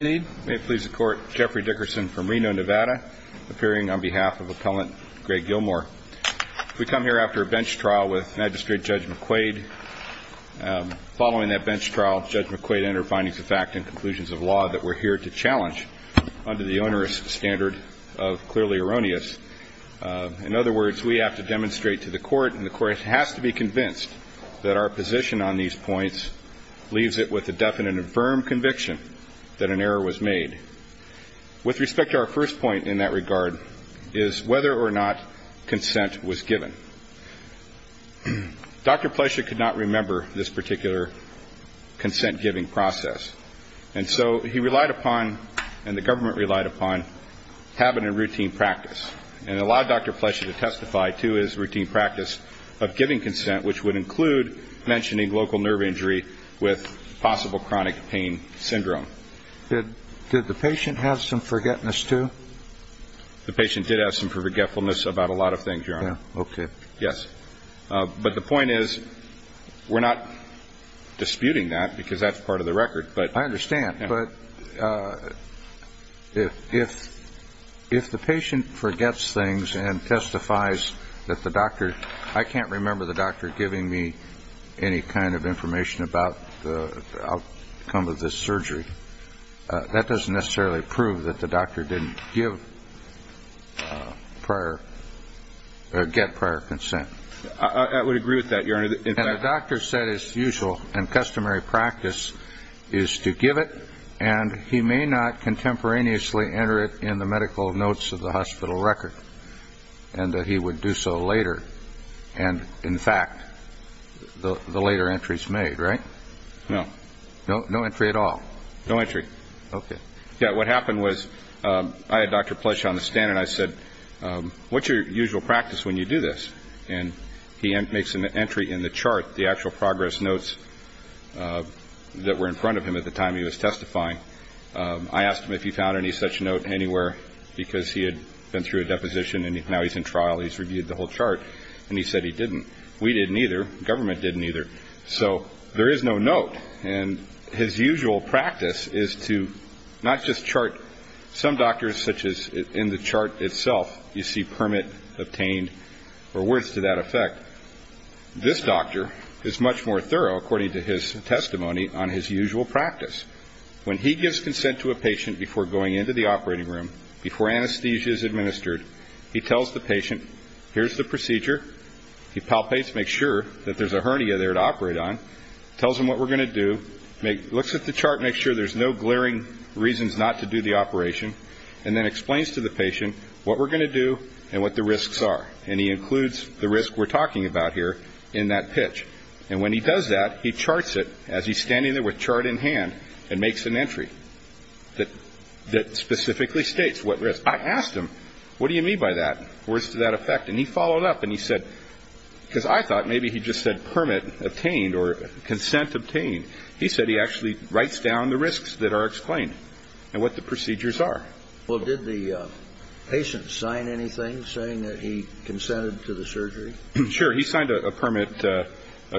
May it please the Court, Jeffrey Dickerson from Reno, Nevada, appearing on behalf of Appellant Greg Gilmore. We come here after a bench trial with Magistrate Judge McQuaid. Following that bench trial, Judge McQuaid entered findings of fact and conclusions of law that we're here to challenge under the onerous standard of clearly erroneous. In other words, we have to demonstrate to the Court, and the Court has to be convinced that our position on these points leaves it with a definite and firm conviction that an error was made. With respect to our first point in that regard, is whether or not consent was given. Dr. Plescia could not remember this particular consent-giving process, and so he relied upon, and the government relied upon, habit and routine practice, and allowed Dr. Plescia to testify to his routine practice of giving consent, which would include mentioning local nerve injury with possible chronic pain syndrome. Did the patient have some forgetfulness, too? The patient did have some forgetfulness about a lot of things, Your Honor. But the point is, we're not disputing that because that's part of the record. I understand, but if the patient forgets things and testifies that the doctor, I can't remember the doctor giving me any kind of information about the outcome of this surgery, that doesn't necessarily prove that the doctor didn't give prior, or get prior consent. I would agree with that, Your Honor. And the doctor said, as usual, and customary practice, is to give it, and he may not contemporaneously enter it in the medical notes of the hospital record, and that he would do so later. And, in fact, the later entry's made, right? No. No entry at all? No entry. Yeah, what happened was, I had Dr. Plescia on the stand and I said, what's your usual practice when you do this? And he makes an entry in the chart, the actual progress notes that were in front of him at the time he was testifying. I asked him if he found any such note anywhere because he had been through a deposition and now he's in trial, he's reviewed the whole chart, and he said he didn't. We didn't either. Government didn't either. So there is no note. And his usual practice is to not just chart some doctors, such as in the chart itself, you see permit obtained or words to that effect. This doctor is much more thorough, according to his testimony, on his usual practice. When he gives consent to a patient before going into the operating room, before anesthesia is administered, he tells the patient, here's the procedure, he palpates to make sure that there's a hernia there to operate on, tells him what we're going to do, looks at the chart to make sure there's no glaring reasons not to do the operation, and then explains to the patient what we're going to do and what the risks are. And he includes the risk we're talking about here in that pitch. And when he does that, he charts it as he's standing there with chart in hand and makes an entry that specifically states what risk. I asked him, what do you mean by that? Words to that effect. And he followed up and he said, because I thought maybe he just said permit obtained or consent obtained. He said he actually writes down the risks that are explained and what the procedures are. Well, did the patient sign anything saying that he consented to the surgery? Sure. He signed a permit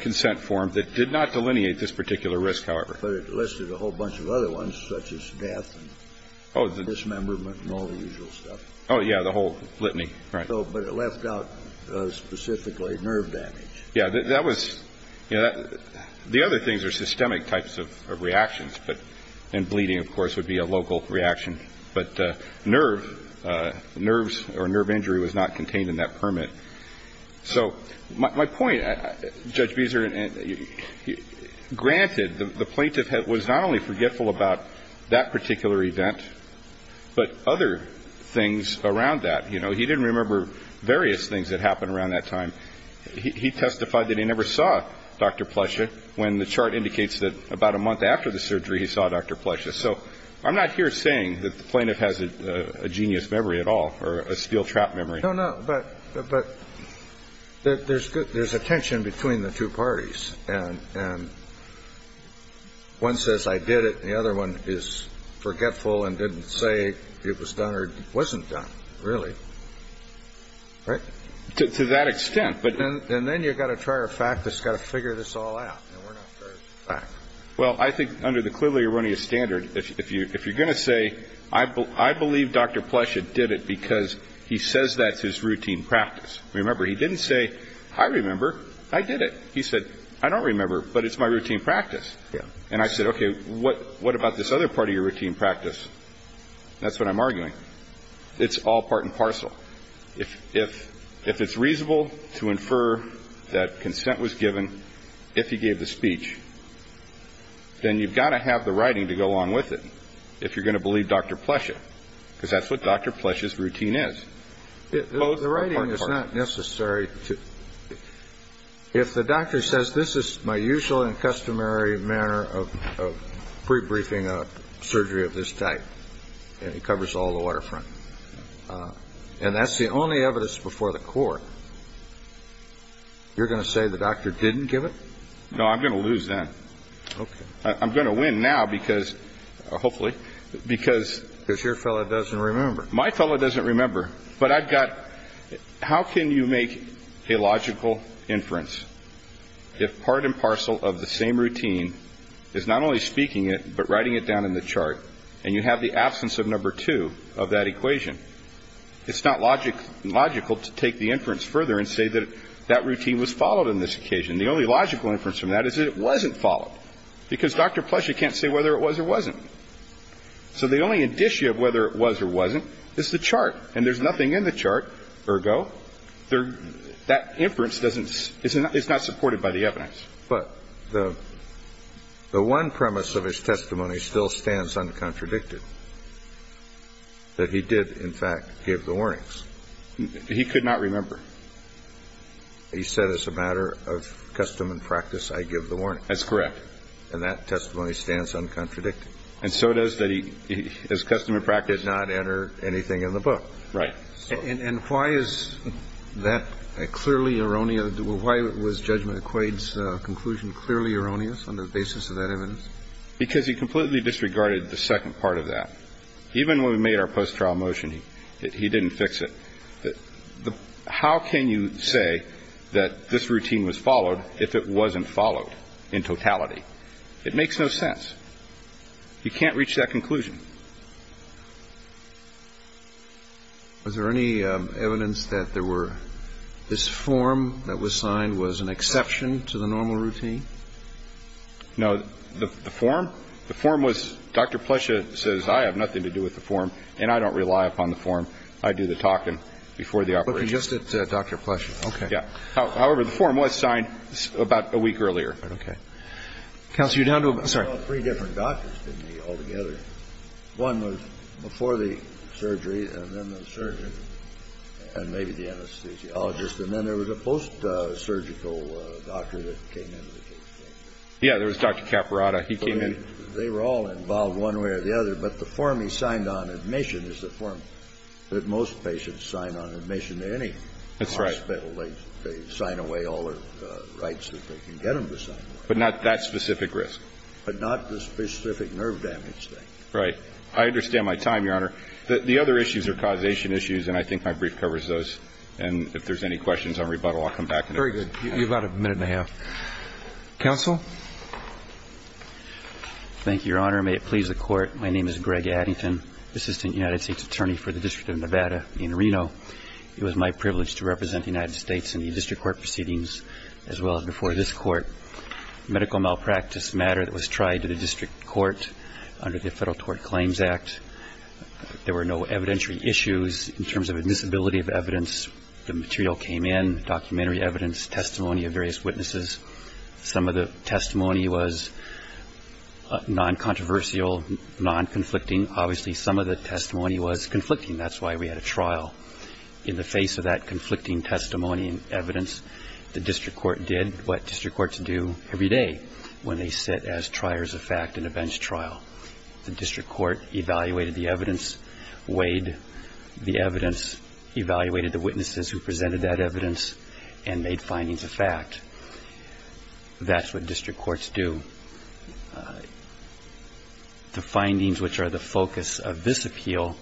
consent form that did not delineate this particular risk, however. But it listed a whole bunch of other ones, such as death and dismemberment and all the usual stuff. Oh, yeah. The whole litany. Right. But it left out specifically nerve damage. Yeah. That was the other things are systemic types of reactions. And bleeding, of course, would be a local reaction. But nerve nerves or nerve injury was not contained in that permit. So my point, Judge Beezer, granted, the plaintiff was not only forgetful about that particular event, but other things around that. You know, he didn't remember various things that happened around that time. He testified that he never saw Dr. Plescia when the chart indicates that about a month after the surgery, he saw Dr. Plescia. So I'm not here saying that the plaintiff has a genius memory at all or a steel trap memory. No, no. But but there's a tension between the two parties. And and one says, I did it. The other one is forgetful and didn't say it was done or wasn't done, really. Right. To that extent. But then and then you've got to try a fact that's got to figure this all out. Well, I think under the clearly erroneous standard, if you if you're going to say, I, I believe Dr. Plescia did it because he says that's his routine practice. Remember, he didn't say, I remember I did it. He said, I don't remember, but it's my routine practice. Yeah. And I said, OK, what what about this other part of your routine practice? That's what I'm arguing. It's all part and parcel. If if if it's reasonable to infer that consent was given, if he gave the speech, then you've got to have the writing to go along with it. If you're going to believe Dr. Plescia, because that's what Dr. Plescia's routine is. The writing is not necessary to if the doctor says this is my usual and customary manner of pre-briefing a surgery of this type, it covers all the waterfront. And that's the only evidence before the court. You're going to say the doctor didn't give it. No, I'm going to lose that. I'm going to win now because hopefully because there's your fellow doesn't remember. My fellow doesn't remember. But I've got. How can you make a logical inference if part and parcel of the same routine is not only speaking it, but writing it down in the chart and you have the absence of number two of that equation? It's not logic logical to take the inference further and say that that routine was followed in this occasion. The only logical inference from that is it wasn't followed because Dr. Plescia can't say whether it was or wasn't. So the only indicia of whether it was or wasn't is the chart and there's nothing in the chart, ergo, that inference doesn't isn't it's not supported by the evidence. But the the one premise of his testimony still stands uncontradicted that he did, in fact, give the warnings he could not remember. He said it's a matter of custom and practice. I give the warning. That's correct. And that testimony stands uncontradicted. And so it is that he is custom and practice did not enter anything in the book. Right. And why is that clearly erroneous? Why was judgment equates conclusion clearly erroneous on the basis of that evidence? Because he completely disregarded the second part of that. Even when we made our post-trial motion, he didn't fix it. How can you say that this routine was followed if it wasn't followed in totality? It makes no sense. You can't reach that conclusion. Was there any evidence that there were this form that was signed was an exception to the normal routine? No. The form the form was Dr. Plescia says I have nothing to do with the form and I don't rely upon the form. I do the talking before the operation. Just at Dr. Plescia. Okay. Yeah. However, the form was signed about a week earlier. Okay. Counsel, you're down to three different doctors altogether. One was before the surgery and then the surgeon and maybe the anesthesiologist. And then there was a post-surgical doctor that came in. Yeah, there was Dr. Caparata. He came in. They were all involved one way or the other. But the form he signed on admission is the form that most patients sign on admission to any hospital. They sign away all the rights that they can get them to sign. But not that specific risk. But not the specific nerve damage thing. Right. I understand my time, Your Honor. The other issues are causation issues, and I think my brief covers those. And if there's any questions on rebuttal, I'll come back. Very good. You've got a minute and a half. Counsel? Thank you, Your Honor. May it please the Court. My name is Greg Addington, Assistant United States Attorney for the District of Nevada in Reno. It was my privilege to represent the United States in the district court proceedings as well as before this court. Medical malpractice matter that was tried to the district court under the Federal Tort Claims Act. There were no evidentiary issues in terms of admissibility of evidence. The material came in, documentary evidence, testimony of various witnesses. Some of the testimony was non-controversial, non-conflicting. Obviously, some of the testimony was conflicting. That's why we had a trial. In the face of that conflicting testimony and evidence, the district court did what district courts do every day when they sit as triers of fact in a bench trial. The district court evaluated the evidence, weighed the evidence, evaluated the witnesses who presented that evidence, and made findings of fact. That's what district courts do. The findings, which are the focus of this appeal,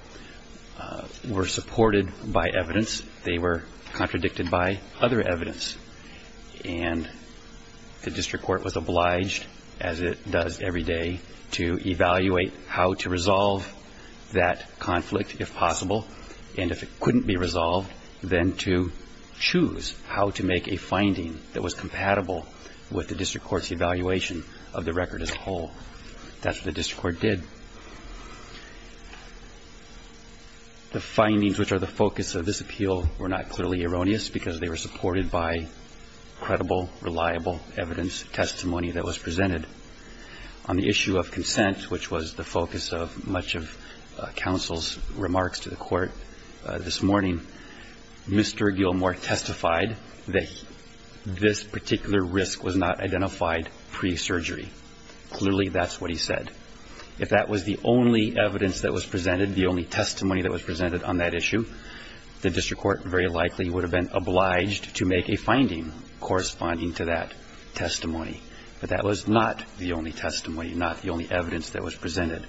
were supported by evidence. They were contradicted by other evidence. And the district court was obliged, as it does every day, to evaluate how to resolve that conflict, if possible. And if it couldn't be resolved, then to choose how to make a finding that was compatible with the district court's evaluation of the record as a whole. That's what the district court did. The findings, which are the focus of this appeal, were not clearly erroneous, because they were supported by credible, reliable evidence, testimony that was presented. On the issue of consent, which was the focus of much of counsel's remarks to the court this morning, Mr. Gilmore testified that this particular risk was not identified pre-surgery. Clearly, that's what he said. If that was the only evidence that was presented, the only testimony that was presented on that issue, the district court very likely would have been obliged to make a finding corresponding to that testimony. But that was not the only testimony, not the only evidence that was presented.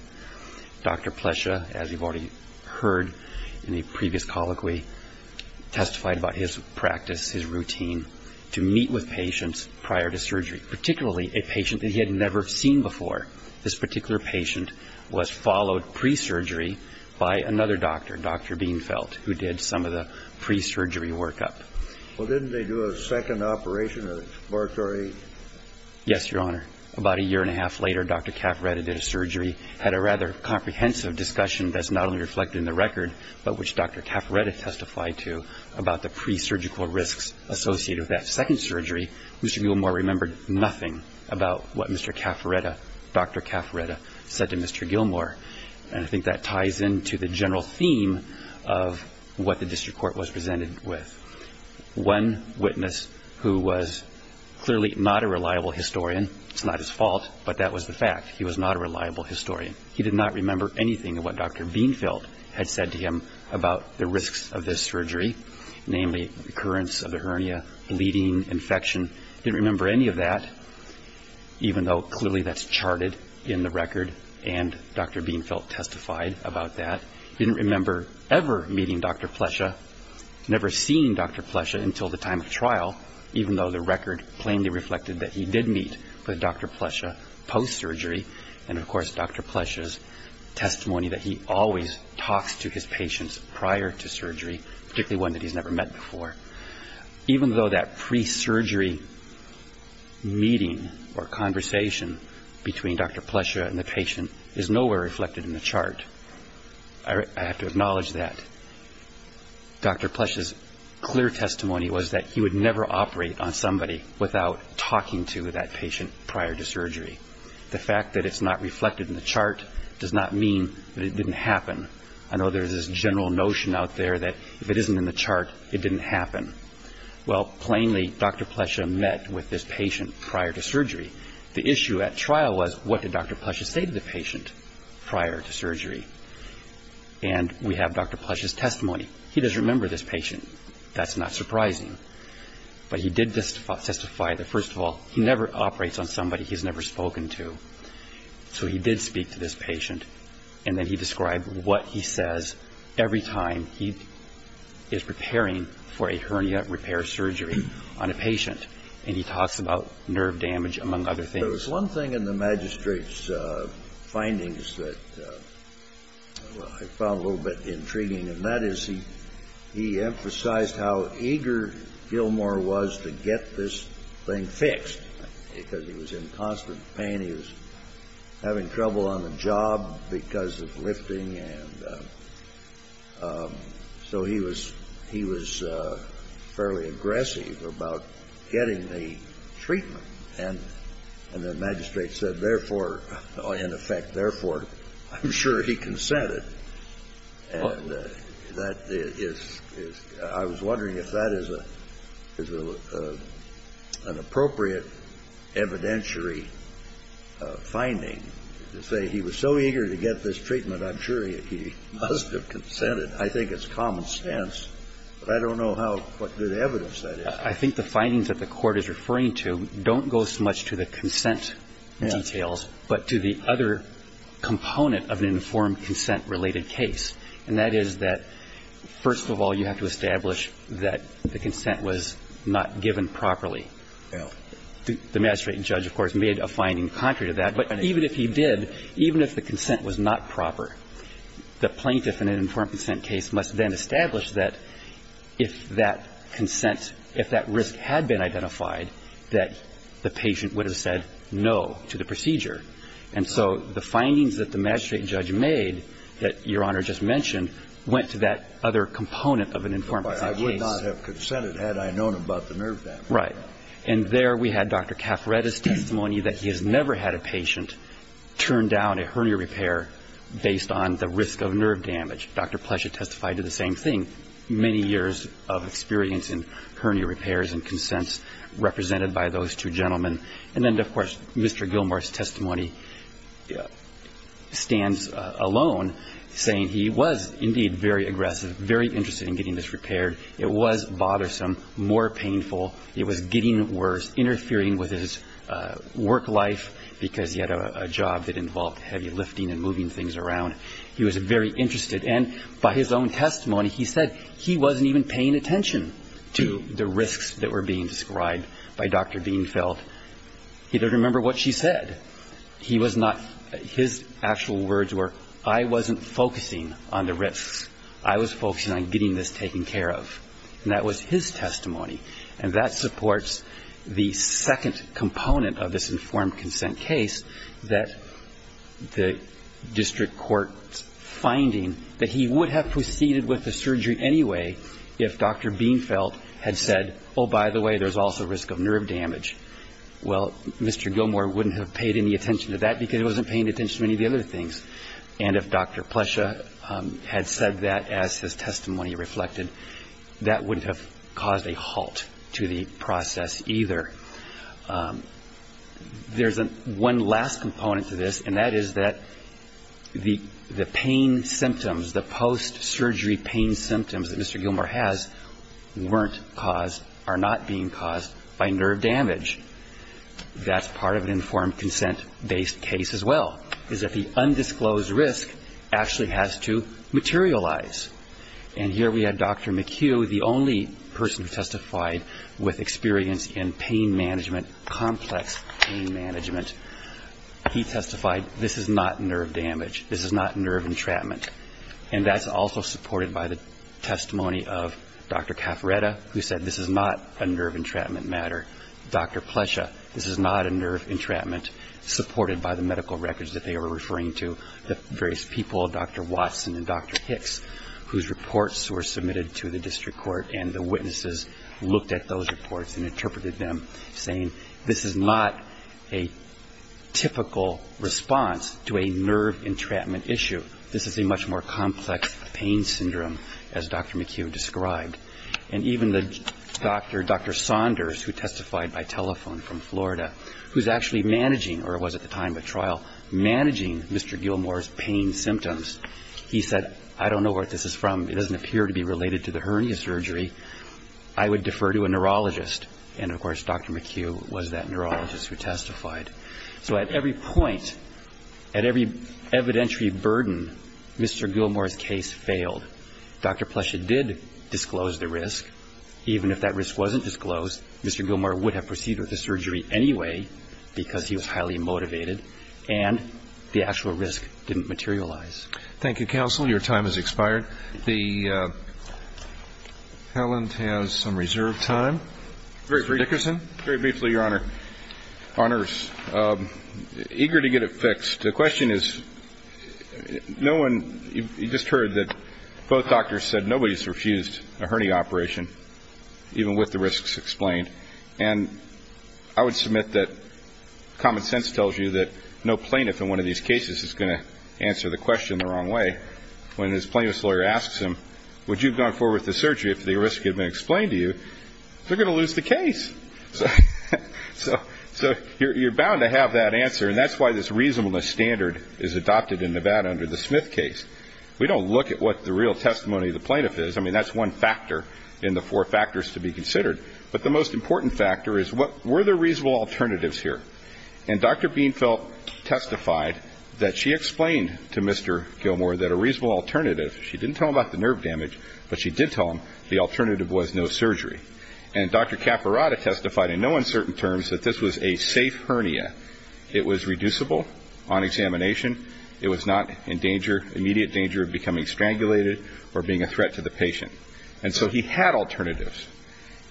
Dr. Plescia, as you've already heard in a previous colloquy, testified about his practice, his routine, to meet with patients prior to surgery, particularly a patient that he had never seen before. This particular patient was followed pre-surgery by another doctor, Dr. Bienfeld, who did some of the pre-surgery workup. Well, didn't they do a second operation of exploratory? Yes, Your Honor. About a year and a half later, Dr. Caffaretta did a surgery, had a rather comprehensive discussion that's not only reflected in the record, but which Dr. Caffaretta testified to about the pre-surgical risks associated with that second surgery. Mr. Gilmour remembered nothing about what Mr. Caffaretta, Dr. Caffaretta, said to Mr. Gilmour. And I think that ties into the general theme of what the district court was presented with. One witness who was clearly not a reliable historian, it's not his fault, but that was the fact, he was not a reliable historian. He did not remember anything of what Dr. Bienfeld had said to him about the risks of this surgery, namely, recurrence of the hernia, bleeding, infection. He didn't remember any of that, even though clearly that's charted in the record, and Dr. Bienfeld testified about that. He didn't remember ever meeting Dr. Plescia, never seeing Dr. Plescia until the time of trial, even though the record plainly reflected that he did meet with Dr. Plescia post-surgery. And of course, Dr. Plescia's testimony that he always talks to his patients prior to surgery, particularly one that he's never met before, even though that pre-surgery meeting or conversation between Dr. Plescia and the patient is nowhere reflected in the chart, I have to acknowledge that. Dr. Plescia's clear testimony was that he would never operate on somebody without talking to that patient prior to surgery. The fact that it's not reflected in the chart does not mean that it didn't happen. I know there's this general notion out there that if it isn't in the chart, it didn't happen. Well, plainly, Dr. Plescia met with this patient prior to surgery. The issue at trial was, what did Dr. Plescia say to the patient prior to surgery? And we have Dr. Plescia's testimony. He doesn't remember this patient. That's not surprising. But he did testify that, first of all, he never operates on somebody he's never spoken to. So he did speak to this patient, and then he described what he says every time he is preparing for a hernia repair surgery on a patient. And he talks about nerve damage, among other things. There was one thing in the magistrate's findings that I found a little bit intriguing, and that is he emphasized how eager Gilmore was to get this thing fixed. Because he was in constant pain, he was having trouble on the job because of lifting, and so he was fairly aggressive about getting the treatment. And the magistrate said, therefore, in effect, therefore, I'm sure he consented. And that is – I was wondering if that is an appropriate evidentiary finding, to say he was so eager to get this treatment, I'm sure he must have consented. I think it's common sense, but I don't know how – what good evidence that is. I think the findings that the Court is referring to don't go so much to the consent details, but to the other component of an informed consent-related case. And that is that, first of all, you have to establish that the consent was not given properly. The magistrate and judge, of course, made a finding contrary to that. But even if he did, even if the consent was not proper, the plaintiff in an informed consent case must then establish that if that consent – if that risk had been identified, that the patient would have said no to the procedure. And so the findings that the magistrate and judge made, that Your Honor just mentioned, went to that other component of an informed consent case. I would not have consented had I known about the nerve damage. Right. And there we had Dr. Caffaretti's testimony that he has never had a patient turn down a hernia repair based on the risk of nerve damage. Dr. Pleschett testified to the same thing, many years of experience in hernia repairs and consents represented by those two gentlemen. And then, of course, Mr. Gilmour's testimony stands alone, saying he was indeed very aggressive, very interested in getting this repaired. It was bothersome, more painful. It was getting worse, interfering with his work life because he had a job that involved heavy lifting and moving things around. He was very interested. And by his own testimony, he said he wasn't even paying attention to the risks that were being described by Dr. Dienfeld. He doesn't remember what she said. He was not – his actual words were, I wasn't focusing on the risks. I was focusing on getting this taken care of. And that was his testimony. And that supports the second component of this informed consent case, that the district court's finding that he would have proceeded with the surgery anyway if Dr. Dienfeld had said, oh, by the way, there's also risk of nerve damage. Well, Mr. Gilmour wouldn't have paid any attention to that because he wasn't paying attention to any of the other things. And if Dr. Pleschett had said that as his testimony reflected, that wouldn't have caused a halt to the process either. There's one last component to this, and that is that the pain symptoms, the post-surgery pain symptoms that Mr. Gilmour has weren't caused, are not being caused by nerve damage. That's part of an informed consent-based as well, is that the undisclosed risk actually has to materialize. And here we have Dr. McHugh, the only person who testified with experience in pain management, complex pain management. He testified, this is not nerve damage. This is not nerve entrapment. And that's also supported by the testimony of Dr. Caffaretta, who said this is not a nerve entrapment matter. Dr. Pleschett, this is not a nerve entrapment supported by the medical records that they were referring to. The various people, Dr. Watson and Dr. Hicks, whose reports were submitted to the district court and the witnesses looked at those reports and interpreted them, saying this is not a typical response to a nerve entrapment issue. This is a much more complex pain syndrome, as Dr. McHugh described. And even Dr. Saunders, who testified by telephone from Florida, who was actually managing, or was at the time of the trial, managing Mr. Gilmour's pain symptoms. He said, I don't know where this is from. It doesn't appear to be related to the hernia surgery. I would defer to a neurologist. And of course, Dr. McHugh was that neurologist who testified. So at every point, at every evidentiary burden, Mr. Gilmour's case failed. Dr. Pleschett did disclose the risk. Even if that risk wasn't disclosed, Mr. Gilmour would have proceeded with the surgery anyway, because he was highly motivated. And the actual risk didn't materialize. Thank you, counsel. Your time has expired. Helen has some reserve time. Mr. Dickerson? Very briefly, Your Honor. Honors. Eager to get it fixed. The question is, no one, you just heard that both doctors said nobody's refused a hernia operation, even with the risks explained. And I would submit that common sense tells you that no plaintiff in one of these cases is going to answer the question the wrong way. When his plaintiff's lawyer asks him, would you have gone forward with the surgery if the risk had been explained to you, they're going to lose the case. So you're bound to have that answer, and that's why this reasonableness standard is adopted in Nevada under the Smith case. We don't look at what the real testimony of the plaintiff is. I mean, that's one factor in the four factors to be considered. But the most important factor is, were there reasonable alternatives here? And Dr. Bienfeld testified that she explained to Mr. Gilmour that a reasonable alternative, she didn't tell him about the nerve damage, but she did tell him the alternative was no surgery. And Dr. Capirotta testified in no uncertain terms that this was a safe hernia. It was reducible on examination. It was not in immediate danger of becoming strangulated or being a threat to the patient. And so he had alternatives.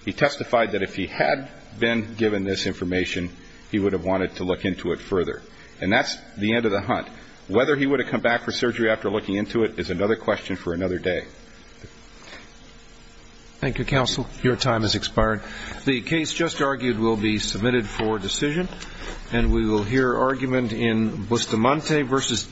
He testified that if he had been given this information, he would have wanted to look into it further. And that's the end of the hunt. Whether he would have come back for surgery after looking into it is another question for another day. Thank you, counsel. Your time has expired. The case just argued will be submitted for decision, and we will hear argument in Bustamante versus